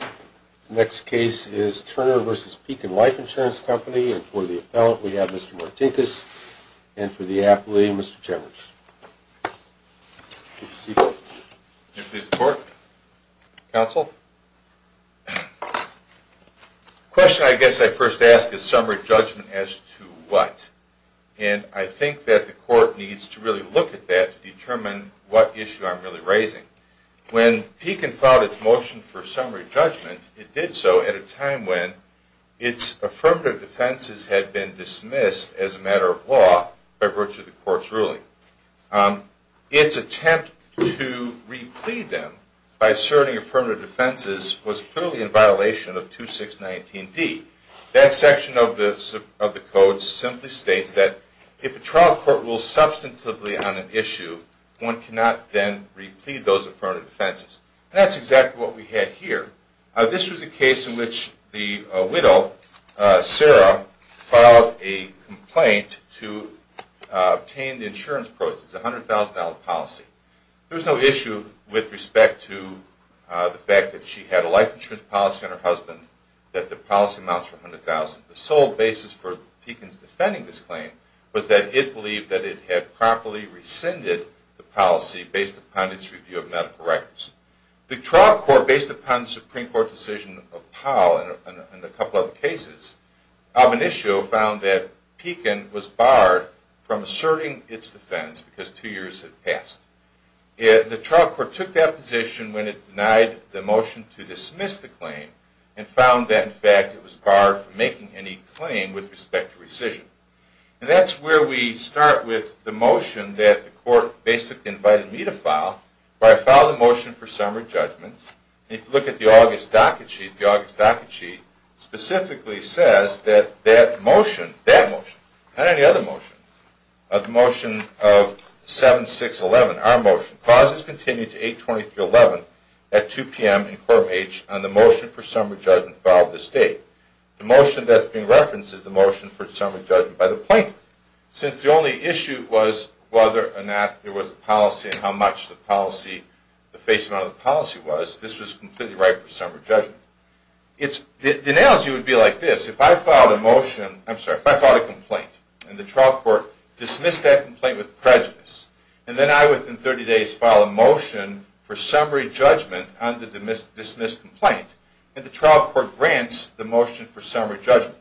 The next case is Turner v. Pekin Life Insurance Company, and for the appellant we have Mr. Martinkus, and for the appellee, Mr. Chemeris. Good to see you. May it please the Court. Counsel. The question I guess I first ask is summary judgment as to what? And I think that the Court needs to really look at that to determine what issue I'm really raising. When Pekin filed its motion for summary judgment, it did so at a time when its affirmative defenses had been dismissed as a matter of law by virtue of the Court's ruling. Its attempt to re-plead them by asserting affirmative defenses was clearly in violation of 2619D. That section of the Code simply states that if a trial court rules substantively on an issue, one cannot then re-plead those affirmative defenses. And that's exactly what we had here. This was a case in which the widow, Sarah, filed a complaint to obtain the insurance proceeds, a $100,000 policy. There was no issue with respect to the fact that she had a life insurance policy on her husband that the policy amounts to $100,000. The sole basis for Pekin's defending this claim was that it believed that it had properly rescinded the policy based upon its review of medical records. The trial court, based upon the Supreme Court decision of Powell and a couple other cases, of an issue found that Pekin was barred from asserting its defense because two years had passed. The trial court took that position when it denied the motion to dismiss the claim and found that, in fact, it was barred from making any claim with respect to rescission. And that's where we start with the motion that the court basically invited me to file. I filed a motion for summary judgment. If you look at the August docket sheet, the August docket sheet specifically says that that motion, that motion, not any other motion, the motion of 7611, our motion, clauses continue to 820 through 11 at 2 p.m. in court of H on the motion for summary judgment filed this date. The motion that's being referenced is the motion for summary judgment by the plaintiff. Since the only issue was whether or not there was a policy and how much the policy, the face amount of the policy was, this was completely right for summary judgment. It's, the analogy would be like this. If I filed a motion, I'm sorry, if I filed a complaint and the trial court dismissed that complaint with prejudice, and then I, within 30 days, file a motion for summary judgment on the dismissed complaint, and the trial court grants the motion for summary judgment,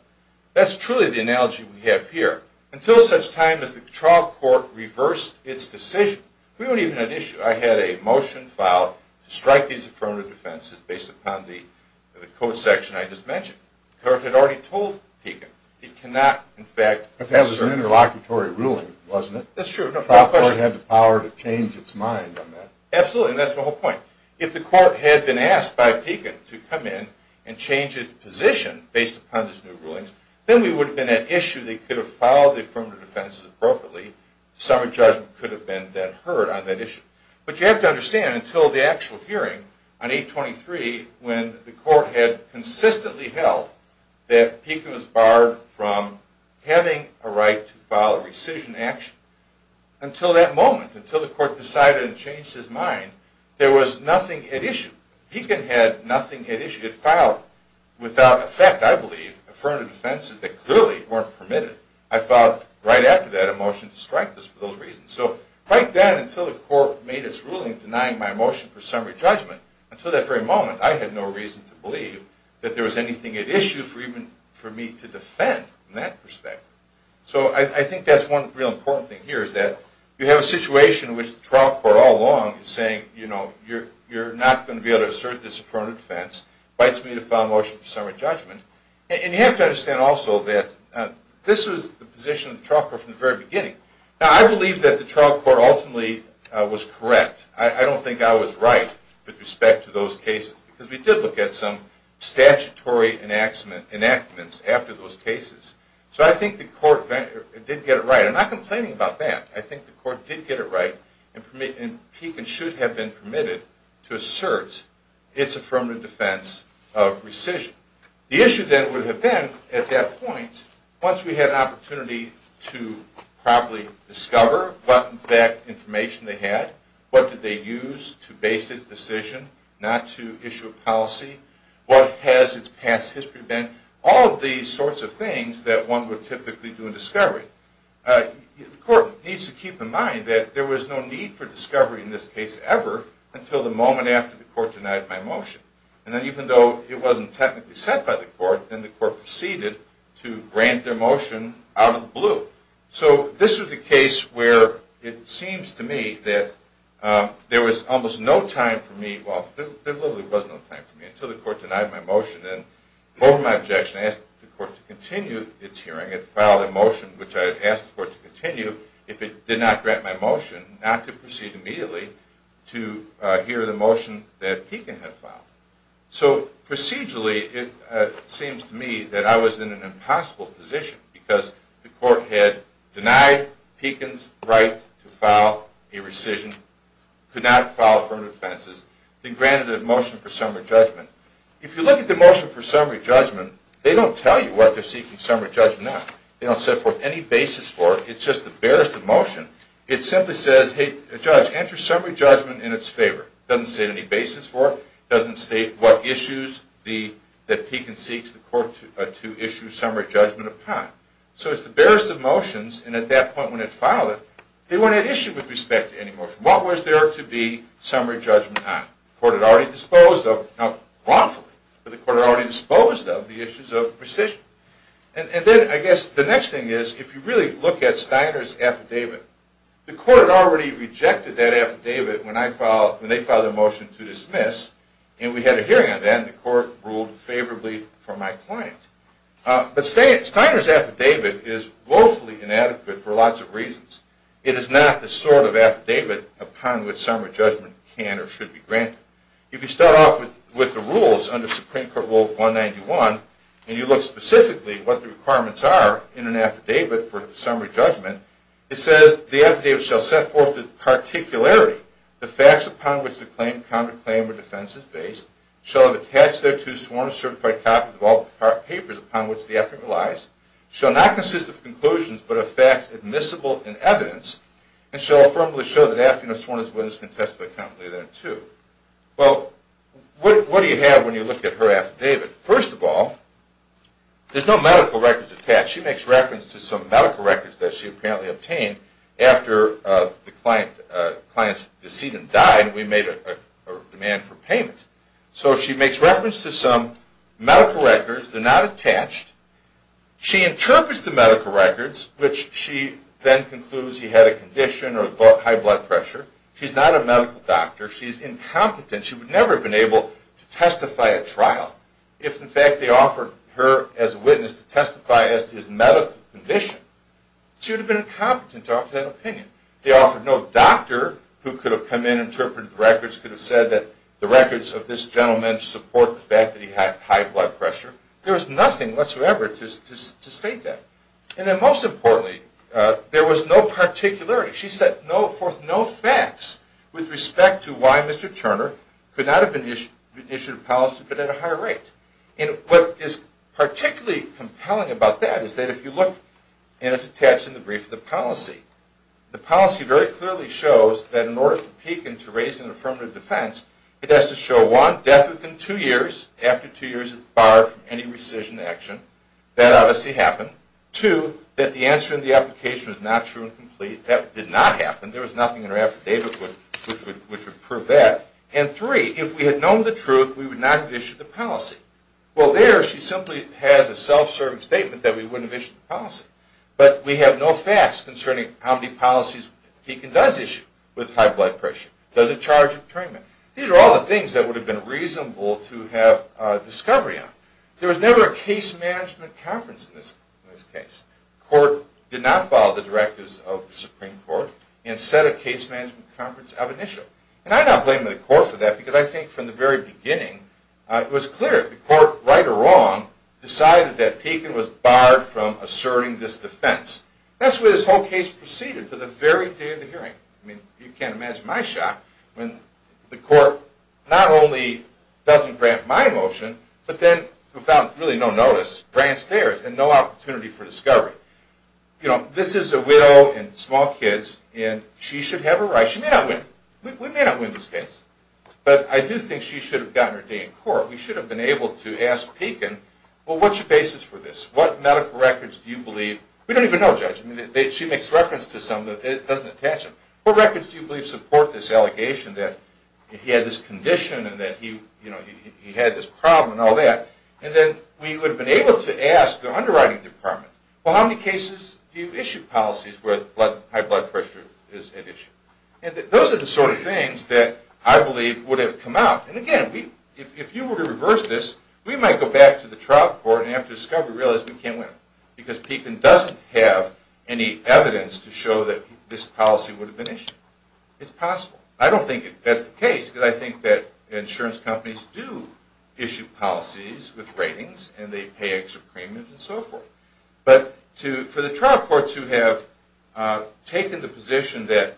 that's truly the analogy we have here. Until such time as the trial court reversed its decision, we don't even have an issue. I had a motion filed to strike these affirmative defenses based upon the code section I just mentioned. The court had already told Pekin, it cannot, in fact, But that was an interlocutory ruling, wasn't it? That's true. The trial court had the power to change its mind on that. Absolutely, and that's the whole point. If the court had been asked by Pekin to come in and change its position based upon these new rulings, then we would have been at issue. They could have filed the affirmative defenses appropriately. Summary judgment could have been then heard on that issue. But you have to understand, until the actual hearing on 823, when the court had consistently held that Pekin was barred from having a right to file a rescission action, until that moment, until the court decided and changed his mind, there was nothing at issue. Pekin had nothing at issue. He had filed, without effect, I believe, affirmative defenses that clearly weren't permitted. I filed, right after that, a motion to strike this for those reasons. So right then, until the court made its ruling denying my motion for summary judgment, until that very moment, I had no reason to believe that there was anything at issue for me to defend from that perspective. So I think that's one real important thing here, is that you have a situation in which the trial court all along is saying, you know, you're not going to be able to assert this affirmative defense. It invites me to file a motion for summary judgment. And you have to understand also that this was the position of the trial court from the very beginning. Now, I believe that the trial court ultimately was correct. I don't think I was right with respect to those cases, because we did look at some statutory enactments after those cases. So I think the court did get it right. I'm not complaining about that. I think the court did get it right, and Pekin should have been permitted to assert its affirmative defense of rescission. The issue then would have been, at that point, once we had an opportunity to properly discover what, in fact, information they had, what did they use to base its decision not to issue a policy, what has its past history been, all of these sorts of things that one would typically do in discovery. The court needs to keep in mind that there was no need for discovery in this case ever until the moment after the court denied my motion. And then even though it wasn't technically set by the court, then the court proceeded to grant their motion out of the blue. So this was a case where it seems to me that there was almost no time for me, well, there literally was no time for me, until the court denied my motion. And over my objection, I asked the court to continue its hearing. It filed a motion, which I had asked the court to continue, if it did not grant my motion, not to proceed immediately to hear the motion that Pekin had filed. So procedurally, it seems to me that I was in an impossible position, because the court had denied Pekin's right to file a rescission, could not file firm defenses, and granted a motion for summary judgment. If you look at the motion for summary judgment, they don't tell you what they're seeking summary judgment on. They don't set forth any basis for it. It's just the barest of motion. It simply says, hey, judge, enter summary judgment in its favor. It doesn't say any basis for it. It doesn't state what issues that Pekin seeks the court to issue summary judgment upon. So it's the barest of motions, and at that point when it filed it, they weren't at issue with respect to any motion. What was there to be summary judgment on? The court had already disposed of, now wrongfully, but the court had already disposed of the issues of rescission. And then I guess the next thing is, if you really look at Steiner's affidavit, the court had already rejected that affidavit when they filed a motion to dismiss, and we had a hearing on that, and the court ruled favorably for my client. But Steiner's affidavit is woefully inadequate for lots of reasons. It is not the sort of affidavit upon which summary judgment can or should be granted. If you start off with the rules under Supreme Court Rule 191, and you look specifically at what the requirements are in an affidavit for summary judgment, it says, the affidavit shall set forth the particularity, the facts upon which the claim, counterclaim, or defense is based, shall have attached thereto sworn or certified copies of all the papers upon which the affidavit relies, shall not consist of conclusions but of facts admissible in evidence, and shall affirmably show that affidavits sworn as witnesses can testify competently thereto. Well, what do you have when you look at her affidavit? First of all, there's no medical records attached. She makes reference to some medical records that she apparently obtained after the client's decedent died and we made a demand for payment. So she makes reference to some medical records. They're not attached. She interprets the medical records, which she then concludes he had a condition or high blood pressure. She's not a medical doctor. She's incompetent. She would never have been able to testify at trial if, in fact, they offered her as a witness to testify as to his medical condition. She would have been incompetent to offer that opinion. They offered no doctor who could have come in and interpreted the records, could have said that the records of this gentleman support the fact that he had high blood pressure. There was nothing whatsoever to state that. And then most importantly, there was no particularity. She set forth no facts with respect to why Mr. Turner could not have been issued a policy but at a higher rate. And what is particularly compelling about that is that if you look, and it's attached in the brief of the policy, the policy very clearly shows that in order to peak and to raise an affirmative defense, it has to show, one, death within two years. After two years, it's barred from any rescission action. That obviously happened. Two, that the answer in the application was not true and complete. That did not happen. There was nothing in her affidavit which would prove that. And three, if we had known the truth, we would not have issued the policy. Well, there she simply has a self-serving statement that we wouldn't have issued the policy. But we have no facts concerning how many policies Deacon does issue with high blood pressure, doesn't charge a detainment. These are all the things that would have been reasonable to have discovery on. There was never a case management conference in this case. The court did not follow the directives of the Supreme Court and set a case management conference of initial. And I'm not blaming the court for that because I think from the very beginning it was clear. The court, right or wrong, decided that Deacon was barred from asserting this defense. That's the way this whole case proceeded to the very day of the hearing. I mean, you can't imagine my shock when the court not only doesn't grant my motion, but then without really no notice grants theirs and no opportunity for discovery. You know, this is a widow and small kids and she should have a right. She may not win. We may not win this case. But I do think she should have gotten her day in court. We should have been able to ask Deacon, well, what's your basis for this? What medical records do you believe? We don't even know, Judge. I mean, she makes reference to some that it doesn't attach to. What records do you believe support this allegation that he had this condition and that he had this problem and all that? And then we would have been able to ask the underwriting department, well, how many cases do you issue policies where high blood pressure is at issue? And those are the sort of things that I believe would have come out. And, again, if you were to reverse this, we might go back to the trial court and after discovery realize we can't win because Deacon doesn't have any evidence to show that this policy would have been issued. It's possible. I don't think that's the case because I think that insurance companies do issue policies with ratings and they pay extra premiums and so forth. But for the trial courts who have taken the position that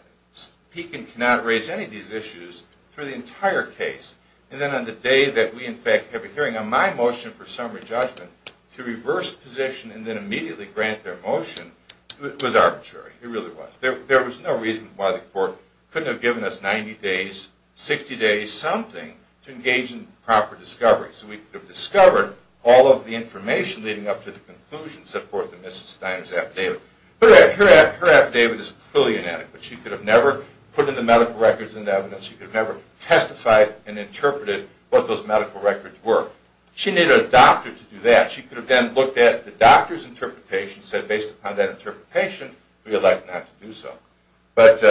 Deacon cannot raise any of these issues for the entire case and then on the day that we, in fact, have a hearing on my motion for summary judgment to reverse position and then immediately grant their motion, it was arbitrary. It really was. There was no reason why the court couldn't have given us 90 days, 60 days, something, to engage in proper discovery so we could have discovered all of the information leading up to the conclusion set forth in Mrs. Steiner's affidavit. But her affidavit is clearly inadequate. She could have never put in the medical records and evidence. She could have never testified and interpreted what those medical records were. She needed a doctor to do that. She could have then looked at the doctor's interpretation and said, based upon that interpretation, we elect not to do so. But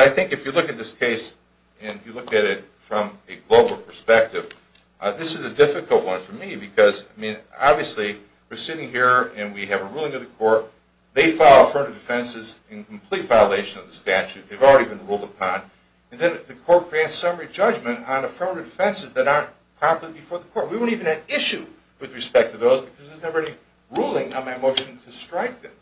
I think if you look at this case and you look at it from a global perspective, this is a difficult one for me because, I mean, obviously we're sitting here and we have a ruling of the court. They file affirmative defenses in complete violation of the statute. They've already been ruled upon. And then the court grants summary judgment on affirmative defenses that aren't properly before the court. We won't even have issue with respect to those because there's never any ruling on my motion to strike them.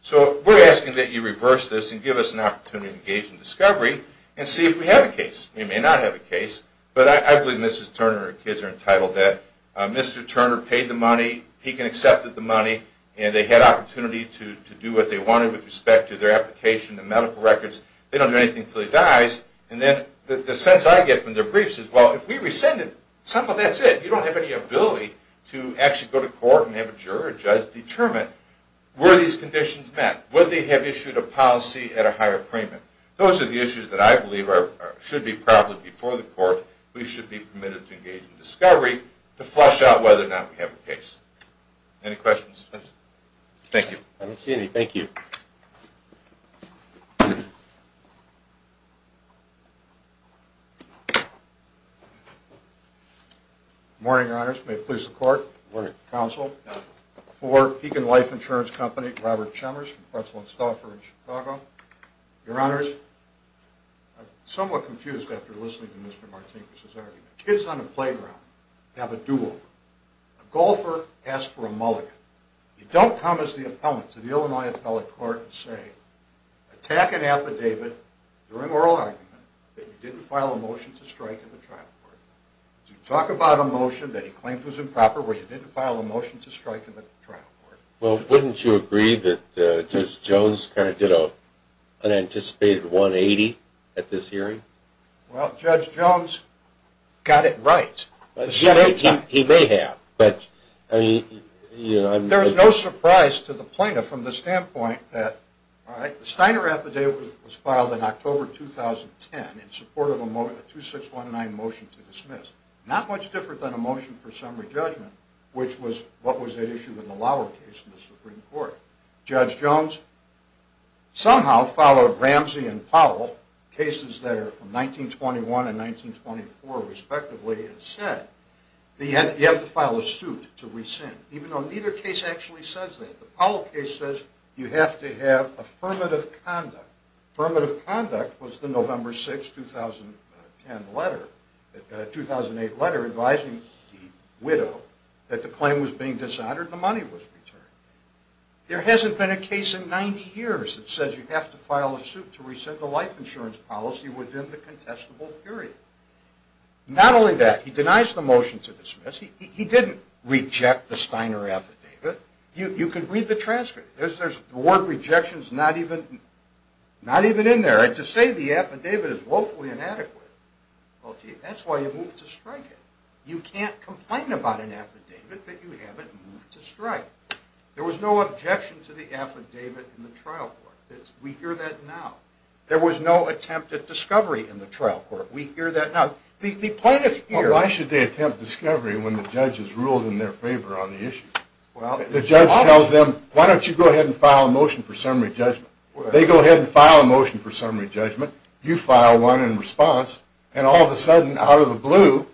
So we're asking that you reverse this and give us an opportunity to engage in discovery and see if we have a case. We may not have a case, but I believe Mrs. Turner and her kids are entitled to that. Mr. Turner paid the money. He can accept the money. And they had opportunity to do what they wanted with respect to their application, the medical records. They don't do anything until he dies. And then the sense I get from their briefs is, well, if we rescind it, that's it. You don't have any ability to actually go to court and have a juror or judge determine were these conditions met. Would they have issued a policy at a higher premium? Those are the issues that I believe should be properly before the court. We should be permitted to engage in discovery to flesh out whether or not we have a case. Any questions? Thank you. I don't see any. Thank you. Good morning, Your Honors. May it please the Court. Good morning, Counsel. Good morning. For Pekin Life Insurance Company, Robert Chalmers from Pretzel and Stauffer in Chicago. Your Honors, I'm somewhat confused after listening to Mr. Martinez's argument. Kids on the playground have a do-over. A golfer asks for a mulligan. You don't come as the appellant to the Illinois Appellate Court and say, attack an affidavit during oral argument that you didn't file a motion to strike in the trial court. You talk about a motion that you claimed was improper where you didn't file a motion to strike in the trial court. Well, wouldn't you agree that Judge Jones kind of did an unanticipated 180 at this hearing? Well, Judge Jones got it right. He may have. There is no surprise to the plaintiff from the standpoint that the Steiner affidavit was filed in October 2010 in support of a 2619 motion to dismiss, not much different than a motion for summary judgment, which was what was at issue in the Lower case in the Supreme Court. Judge Jones somehow followed Ramsey and Powell, cases that are from 1921 and 1924, respectively, and said you have to file a suit to rescind, even though neither case actually says that. The Powell case says you have to have affirmative conduct. Affirmative conduct was the November 6, 2008 letter advising the widow that the claim was being dishonored and the money was returned. There hasn't been a case in 90 years that says you have to file a suit to rescind a life insurance policy within the contestable period. Not only that, he denies the motion to dismiss. He didn't reject the Steiner affidavit. You can read the transcript. The word rejection is not even in there. To say the affidavit is woefully inadequate, well, gee, that's why you moved to strike it. You can't complain about an affidavit that you haven't moved to strike. There was no objection to the affidavit in the trial court. We hear that now. There was no attempt at discovery in the trial court. We hear that now. Why should they attempt discovery when the judge has ruled in their favor on the issue? The judge tells them, why don't you go ahead and file a motion for summary judgment? They go ahead and file a motion for summary judgment. You file one in response. And all of a sudden, out of the blue,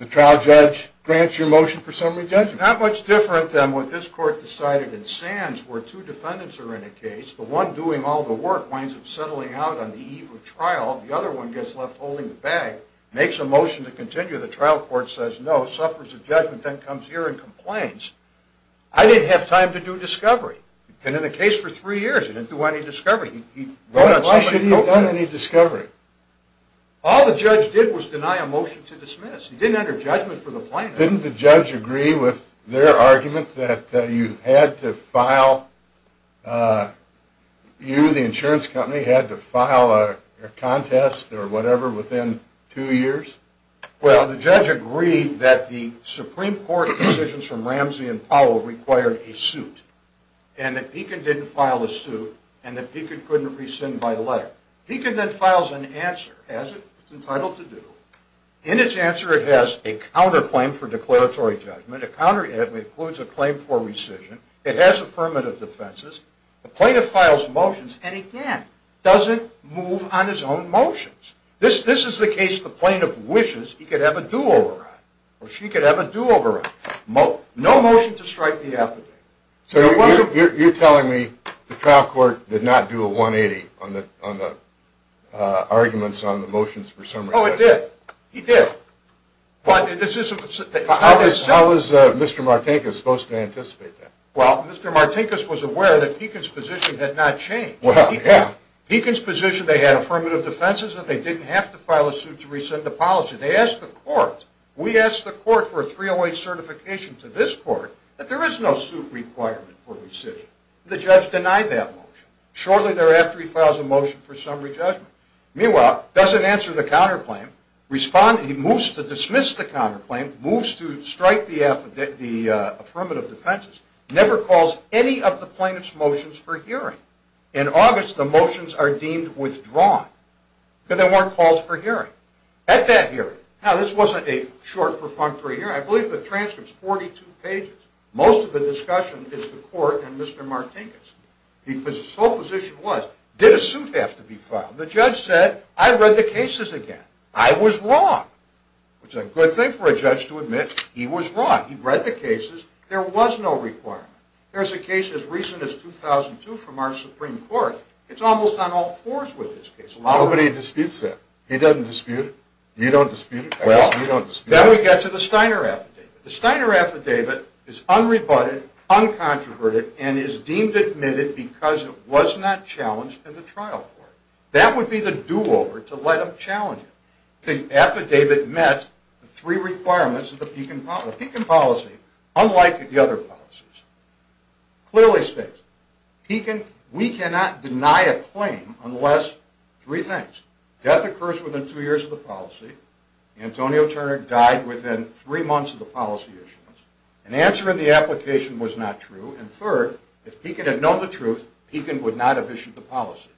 the trial judge grants your motion for summary judgment. Not much different than what this court decided in Sands where two defendants are in a case. The one doing all the work winds up settling out on the eve of trial. The other one gets left holding the bag, makes a motion to continue. I didn't have time to do discovery. You've been in a case for three years. You didn't do any discovery. Why should he have done any discovery? All the judge did was deny a motion to dismiss. He didn't enter judgment for the plaintiff. Didn't the judge agree with their argument that you had to file, you, the insurance company, had to file a contest or whatever within two years? Well, the judge agreed that the Supreme Court decisions from Ramsey and Powell required a suit, and that Beacon didn't file a suit, and that Beacon couldn't rescind my letter. Beacon then files an answer. Has it? It's entitled to do. In its answer, it has a counterclaim for declaratory judgment. A counterclaim includes a claim for rescission. It has affirmative defenses. The plaintiff files motions, and again, doesn't move on his own motions. This is the case the plaintiff wishes he could have a do-over on, or she could have a do-over on. No motion to strike the affidavit. So you're telling me the trial court did not do a 180 on the arguments on the motions for summary judgment? Oh, it did. It did. How was Mr. Martinkus supposed to anticipate that? Well, Mr. Martinkus was aware that Beacon's position had not changed. Well, yeah. Beacon's position, they had affirmative defenses, and they didn't have to file a suit to rescind the policy. They asked the court. We asked the court for a 308 certification to this court that there is no suit requirement for rescission. The judge denied that motion. Shortly thereafter, he files a motion for summary judgment. Meanwhile, doesn't answer the counterclaim, moves to dismiss the counterclaim, moves to strike the affirmative defenses, never calls any of the plaintiff's motions for hearing. In August, the motions are deemed withdrawn because there weren't calls for hearing. At that hearing, now this wasn't a short, perfunctory hearing. I believe the transcripts, 42 pages, most of the discussion is the court and Mr. Martinkus. Because his sole position was, did a suit have to be filed? The judge said, I read the cases again. I was wrong, which is a good thing for a judge to admit he was wrong. He read the cases. There was no requirement. There's a case as recent as 2002 from our Supreme Court. It's almost on all fours with this case. Nobody disputes that. He doesn't dispute it. You don't dispute it. Well, then we get to the Steiner affidavit. The Steiner affidavit is unrebutted, uncontroverted, and is deemed admitted because it was not challenged in the trial court. That would be the do-over to let them challenge it. The affidavit met the three requirements of the Pekin policy, unlike the other policies. Clearly states, Pekin, we cannot deny a claim unless three things. Death occurs within two years of the policy. Antonio Turner died within three months of the policy issuance. An answer in the application was not true. And third, if Pekin had known the truth, Pekin would not have issued the policy.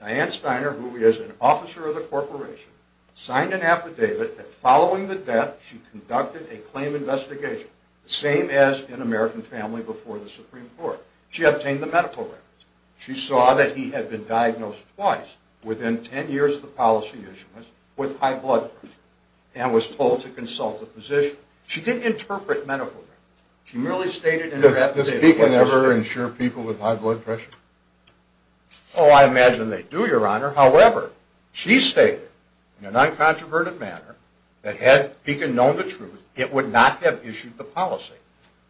Diane Steiner, who is an officer of the corporation, signed an affidavit that following the death she conducted a claim investigation, the same as in American Family before the Supreme Court. She obtained the medical records. She saw that he had been diagnosed twice within ten years of the policy issuance with high blood pressure and was told to consult a physician. She didn't interpret medical records. She merely stated in her affidavit… Does Pekin ever insure people with high blood pressure? Oh, I imagine they do, Your Honor. However, she stated in an uncontroverted manner that had Pekin known the truth, it would not have issued the policy.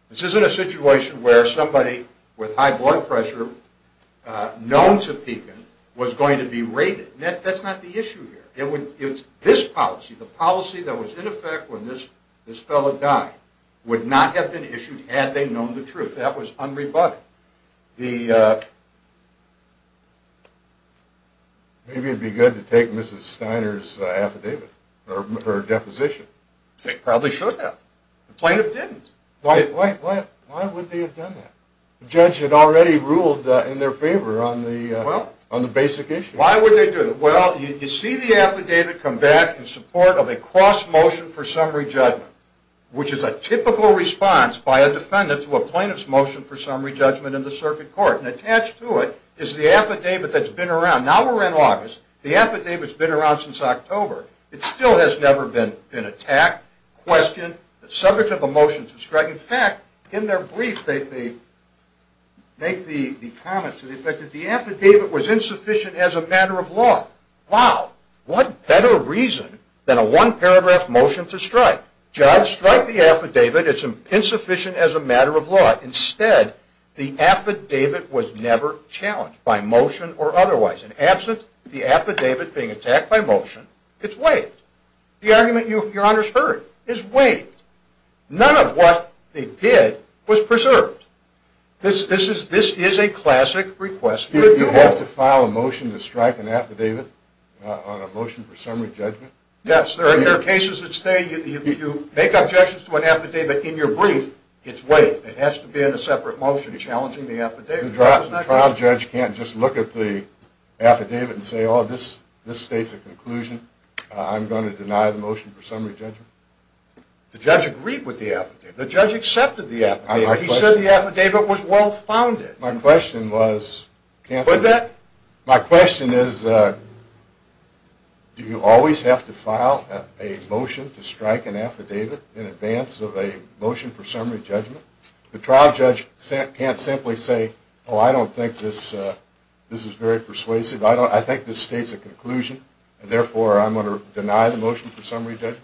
This isn't a situation where somebody with high blood pressure known to Pekin was going to be raided. That's not the issue here. It's this policy, the policy that was in effect when this fellow died, would not have been issued had they known the truth. That was unrebutted. Now, the… Maybe it would be good to take Mrs. Steiner's affidavit or deposition. They probably should have. The plaintiff didn't. Why would they have done that? The judge had already ruled in their favor on the basic issue. Why would they do that? Well, you see the affidavit come back in support of a cross motion for summary judgment, which is a typical response by a defendant to a plaintiff's motion for summary judgment in the circuit court. And attached to it is the affidavit that's been around. Now we're in August. The affidavit's been around since October. It still has never been attacked, questioned, the subject of a motion to strike. In fact, in their brief, they make the comment to the effect that the affidavit was insufficient as a matter of law. Wow. What better reason than a one-paragraph motion to strike? Judge, strike the affidavit. It's insufficient as a matter of law. Instead, the affidavit was never challenged by motion or otherwise. And absent the affidavit being attacked by motion, it's waived. The argument, Your Honors, heard is waived. This is a classic request for renewal. You have to file a motion to strike an affidavit on a motion for summary judgment? Yes. There are cases that stay. You make objections to an affidavit in your brief. It's waived. It has to be in a separate motion challenging the affidavit. The trial judge can't just look at the affidavit and say, oh, this states a conclusion. I'm going to deny the motion for summary judgment? The judge agreed with the affidavit. The judge accepted the affidavit. He said the affidavit was well-founded. My question is, do you always have to file a motion to strike an affidavit in advance of a motion for summary judgment? The trial judge can't simply say, oh, I don't think this is very persuasive. I think this states a conclusion, and therefore I'm going to deny the motion for summary judgment?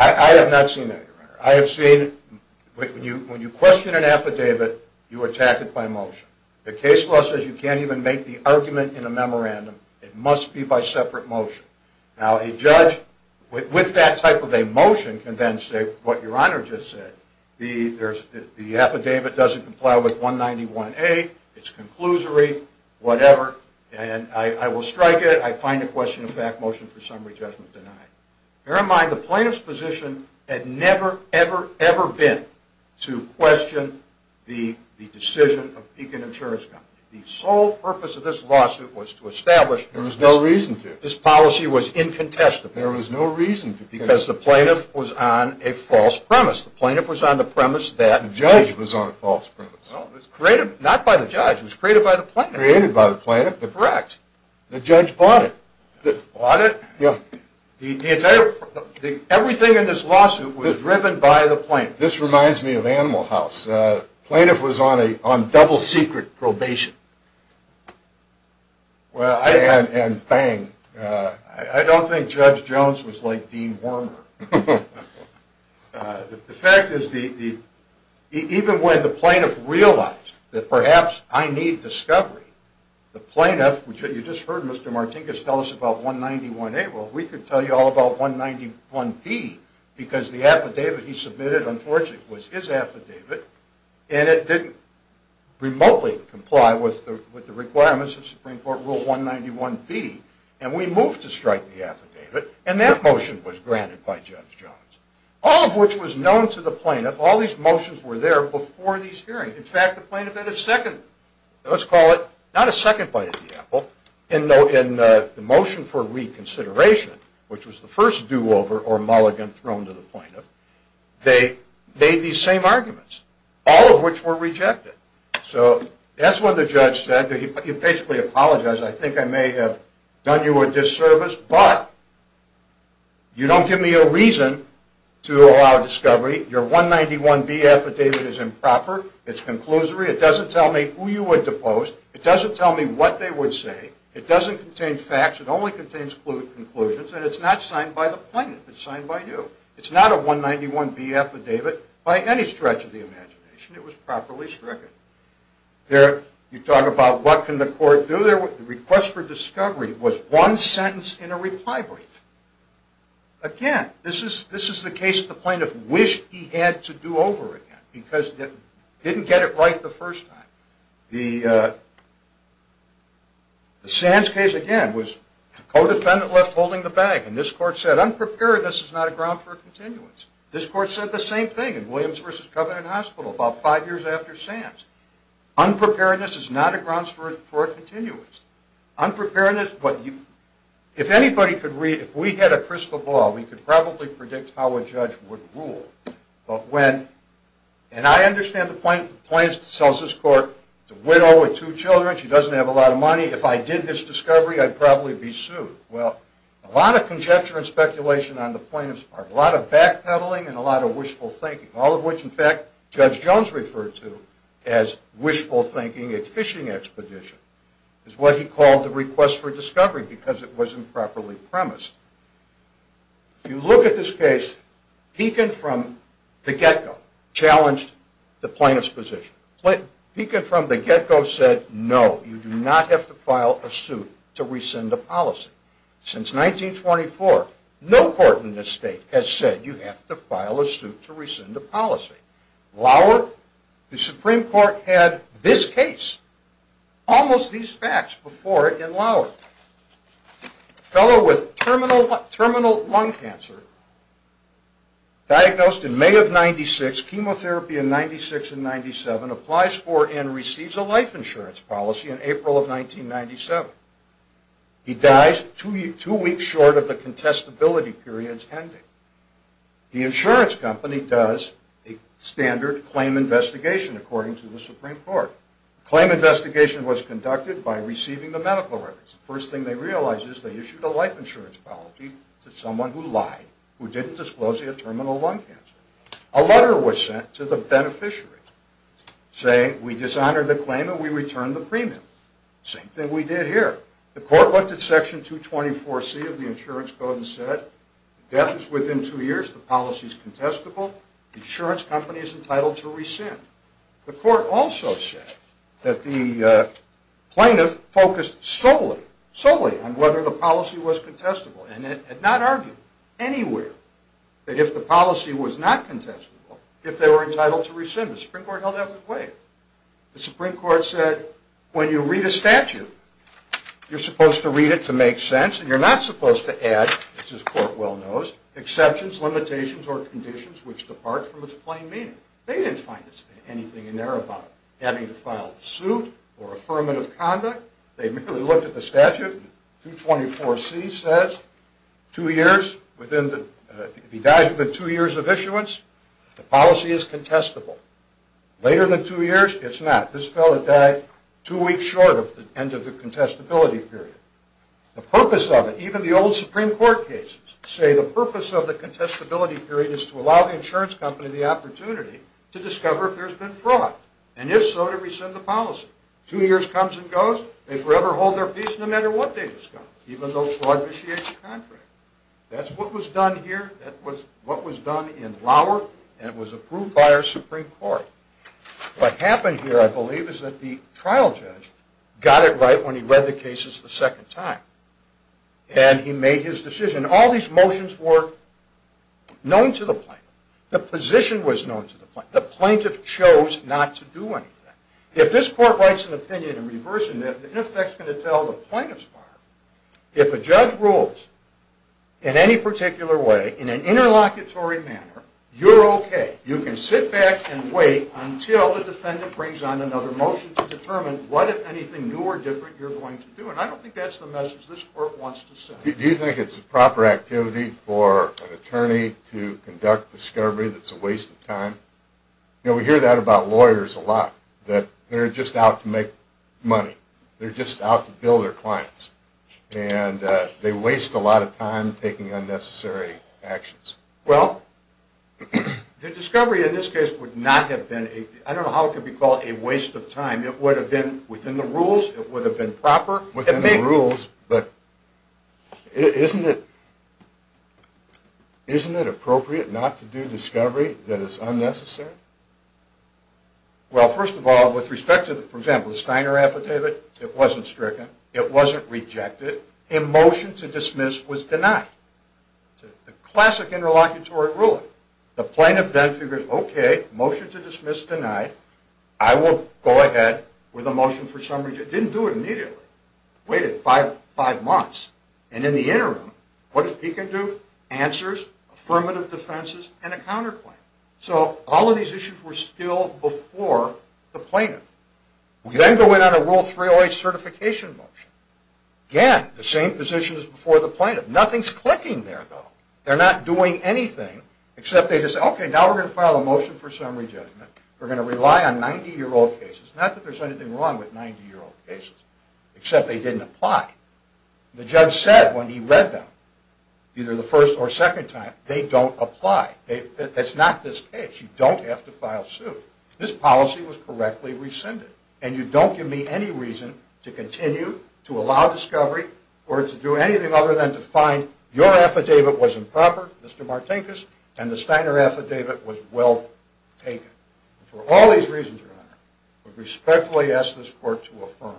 I have not seen that, Your Honor. I have seen when you question an affidavit, you attack it by motion. The case law says you can't even make the argument in a memorandum. It must be by separate motion. Now, a judge with that type of a motion can then say what Your Honor just said. The affidavit doesn't comply with 191A. It's a conclusory whatever, and I will strike it. I find a question of fact motion for summary judgment denied. Bear in mind the plaintiff's position had never, ever, ever been to question the decision of Beacon Insurance Company. The sole purpose of this lawsuit was to establish that this policy was incontestable because the plaintiff was on a false premise. The plaintiff was on the premise that the judge was on a false premise. Well, it was created not by the judge. It was created by the plaintiff. Created by the plaintiff. Correct. The judge bought it. Bought it? Yeah. Everything in this lawsuit was driven by the plaintiff. This reminds me of Animal House. The plaintiff was on double secret probation. And bang. I don't think Judge Jones was like Dean Wormer. The fact is even when the plaintiff realized that perhaps I need discovery, the plaintiff, you just heard Mr. Martinkus tell us about 191A. Well, we could tell you all about 191B because the affidavit he submitted, unfortunately, was his affidavit. And it didn't remotely comply with the requirements of Supreme Court Rule 191B. And we moved to strike the affidavit. And that motion was granted by Judge Jones. All of which was known to the plaintiff. All these motions were there before these hearings. In fact, the plaintiff had a second, let's call it, not a second bite at the apple in the motion for reconsideration, which was the first do-over or mulligan thrown to the plaintiff. They made these same arguments, all of which were rejected. So that's when the judge said that he basically apologized. I think I may have done you a disservice, but you don't give me a reason to allow discovery. Your 191B affidavit is improper. It's conclusory. It doesn't tell me who you would depose. It doesn't tell me what they would say. It doesn't contain facts. It only contains conclusions. And it's not signed by the plaintiff. It's signed by you. It's not a 191B affidavit by any stretch of the imagination. It was properly stricken. You talk about what can the court do. The request for discovery was one sentence in a reply brief. Again, this is the case the plaintiff wished he had to do over again. Because it didn't get it right the first time. The Sands case, again, was a co-defendant left holding the bag. And this court said, unpreparedness is not a ground for a continuance. This court said the same thing in Williams v. Covenant Hospital about five years after Sands. Unpreparedness is not a ground for a continuance. Unpreparedness, if we had a crystal ball, we could probably predict how a judge would rule. And I understand the plaintiff tells this court, it's a widow with two children. She doesn't have a lot of money. If I did this discovery, I'd probably be sued. Well, a lot of conjecture and speculation on the plaintiff's part, a lot of backpedaling and a lot of wishful thinking, all of which, in fact, Judge Jones referred to as wishful thinking at fishing expedition. It's what he called the request for discovery because it wasn't properly premised. If you look at this case, Beacon from the get-go challenged the plaintiff's position. Beacon from the get-go said, no, you do not have to file a suit to rescind a policy. Since 1924, no court in this state has said you have to file a suit to rescind a policy. Lauer, the Supreme Court had this case, almost these facts before it in Lauer. A fellow with terminal lung cancer diagnosed in May of 96, chemotherapy in 96 and 97, applies for and receives a life insurance policy in April of 1997. He dies two weeks short of the contestability period's ending. The insurance company does a standard claim investigation, according to the Supreme Court. The claim investigation was conducted by receiving the medical records. The first thing they realized is they issued a life insurance policy to someone who lied, who didn't disclose he had terminal lung cancer. A letter was sent to the beneficiary saying, we dishonored the claim and we returned the premium. Same thing we did here. The court looked at section 224C of the insurance code and said, death is within two years, the policy is contestable, the insurance company is entitled to rescind. The court also said that the plaintiff focused solely, solely on whether the policy was contestable and had not argued anywhere that if the policy was not contestable, if they were entitled to rescind. The Supreme Court held that with weight. The Supreme Court said, when you read a statute, you're supposed to read it to make sense and you're not supposed to add, as this court well knows, exceptions, limitations, or conditions which depart from its plain meaning. They didn't find anything in there about having to file suit or affirmative conduct. They merely looked at the statute. 224C says two years, if he dies within two years of issuance, the policy is contestable. Later than two years, it's not. This fellow died two weeks short of the end of the contestability period. The purpose of it, even the old Supreme Court cases, say the purpose of the contestability period is to allow the insurance company the opportunity to discover if there's been fraud, and if so, to rescind the policy. Two years comes and goes, they forever hold their peace no matter what they discover, even though fraud vitiates the contract. That's what was done here. That was what was done in Lauer, and it was approved by our Supreme Court. What happened here, I believe, is that the trial judge got it right when he read the cases the second time, and he made his decision. All these motions were known to the plaintiff. The position was known to the plaintiff. The plaintiff chose not to do anything. If this court writes an opinion in reversing that, it in effect is going to tell the plaintiff's partner, if a judge rules in any particular way, in an interlocutory manner, you're okay. You can sit back and wait until the defendant brings on another motion to determine what, if anything, new or different you're going to do. I don't think that's the message this court wants to send. Do you think it's a proper activity for an attorney to conduct discovery that's a waste of time? We hear that about lawyers a lot, that they're just out to make money. They're just out to bill their clients, and they waste a lot of time taking unnecessary actions. Well, the discovery in this case would not have been a, I don't know how it could be called a waste of time. It would have been within the rules. It would have been proper. Within the rules, but isn't it appropriate not to do discovery that is unnecessary? Well, first of all, with respect to, for example, the Steiner affidavit, it wasn't stricken. It wasn't rejected. A motion to dismiss was denied. A classic interlocutory ruling. The plaintiff then figured, okay, motion to dismiss denied. I will go ahead with a motion for summary. Didn't do it immediately. Waited five months. And in the interim, what did he do? Answers, affirmative defenses, and a counterclaim. So all of these issues were still before the plaintiff. We then go in on a Rule 308 certification motion. Again, the same position as before the plaintiff. Nothing's clicking there, though. They're not doing anything, except they just say, okay, now we're going to file a motion for summary judgment. We're going to rely on 90-year-old cases. Not that there's anything wrong with 90-year-old cases, except they didn't apply. The judge said when he read them, either the first or second time, they don't apply. That's not this case. You don't have to file suit. This policy was correctly rescinded, and you don't give me any reason to continue to allow discovery or to do anything other than to find your affidavit was improper, Mr. Martinkus, and the Steiner affidavit was well taken. And for all these reasons, Your Honor, I respectfully ask this Court to affirm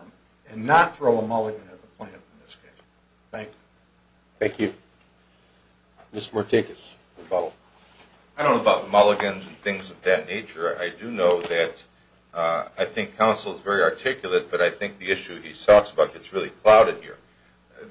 and not throw a mulligan at the plaintiff in this case. Thank you. Thank you. Mr. Martinkus. I don't know about mulligans and things of that nature. I do know that I think counsel is very articulate, but I think the issue he talks about gets really clouded here.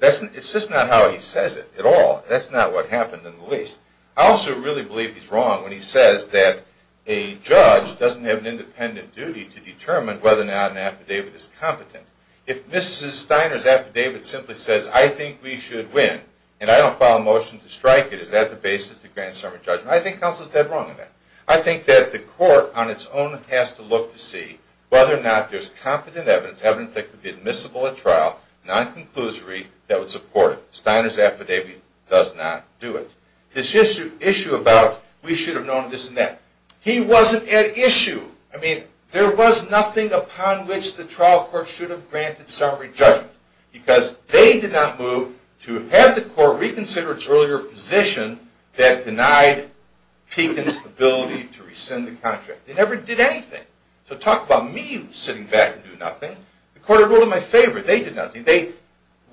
It's just not how he says it at all. That's not what happened in the least. I also really believe he's wrong when he says that a judge doesn't have an independent duty to determine whether or not an affidavit is competent. If Mrs. Steiner's affidavit simply says, I think we should win, and I don't file a motion to strike it, is that the basis to grant sermon judgment? I think counsel is dead wrong in that. I think that the Court on its own has to look to see whether or not there's competent evidence, evidence that could be admissible at trial, non-conclusory, that would support it. Steiner's affidavit does not do it. This issue about we should have known this and that. He wasn't at issue. I mean, there was nothing upon which the trial court should have granted summary judgment because they did not move to have the court reconsider its earlier position that denied Pekin's ability to rescind the contract. They never did anything. So talk about me sitting back and doing nothing. The court had ruled in my favor. They did nothing. They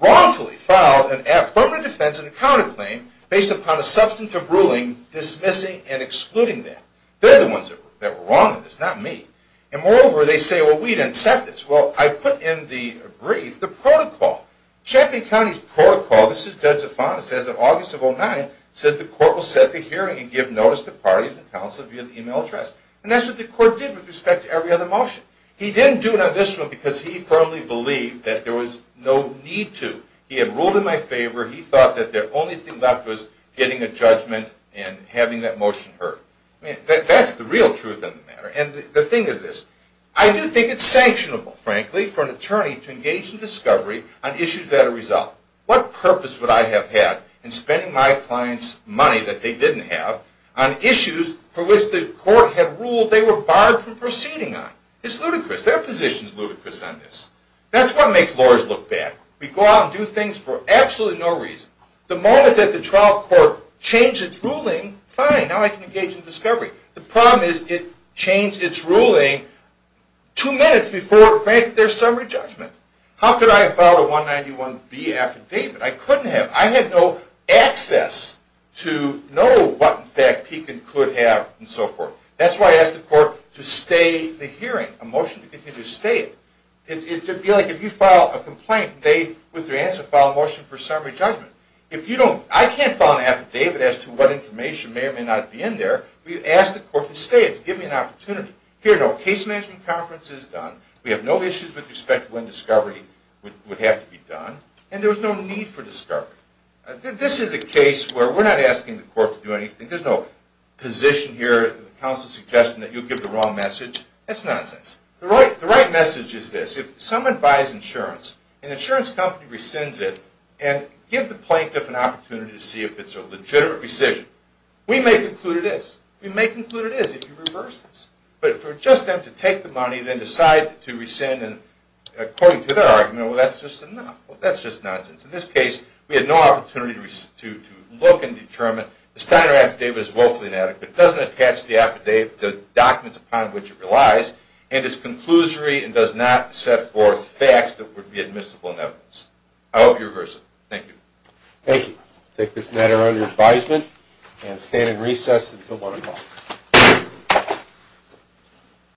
wrongfully filed an affirmative defense and a counterclaim based upon a substantive ruling dismissing and excluding that. They're the ones that were wrong in this, not me. And moreover, they say, well, we didn't set this. Well, I put in the brief the protocol. Champion County's protocol, this is Judge Zafon, it says that August of 2009, it says the court will set the hearing and give notice to parties and counsel via the email address. And that's what the court did with respect to every other motion. He didn't do it on this one because he firmly believed that there was no need to. He had ruled in my favor. He thought that the only thing left was getting a judgment and having that motion heard. That's the real truth of the matter. And the thing is this. I do think it's sanctionable, frankly, for an attorney to engage in discovery on issues that are resolved. What purpose would I have had in spending my client's money that they didn't have on issues for which the court had ruled they were barred from proceeding on? It's ludicrous. Their position is ludicrous on this. That's what makes lawyers look bad. We go out and do things for absolutely no reason. The moment that the trial court changed its ruling, fine, now I can engage in discovery. The problem is it changed its ruling two minutes before it granted their summary judgment. How could I have filed a 191B affidavit? I couldn't have. I had no access to know what, in fact, he could have and so forth. That's why I asked the court to stay the hearing, a motion to continue to stay it. It would be like if you file a complaint, they, with their answer, file a motion for summary judgment. I can't file an affidavit as to what information may or may not be in there. We asked the court to stay it, to give me an opportunity. Here, no, case management conference is done. We have no issues with respect to when discovery would have to be done, and there was no need for discovery. This is a case where we're not asking the court to do anything. There's no position here, counsel's suggestion that you give the wrong message. That's nonsense. The right message is this. If someone buys insurance and the insurance company rescinds it and gives the plaintiff an opportunity to see if it's a legitimate rescission, we may conclude it is. We may conclude it is if you reverse this. But for just them to take the money and then decide to rescind according to their argument, well, that's just nonsense. In this case, we had no opportunity to look and determine. The Steiner affidavit is woefully inadequate. It doesn't attach the documents upon which it relies, and it's conclusory and does not set forth facts that would be admissible in evidence. I hope you reverse it. Thank you. Thank you. I take this matter under advisement and stand in recess until 1 o'clock.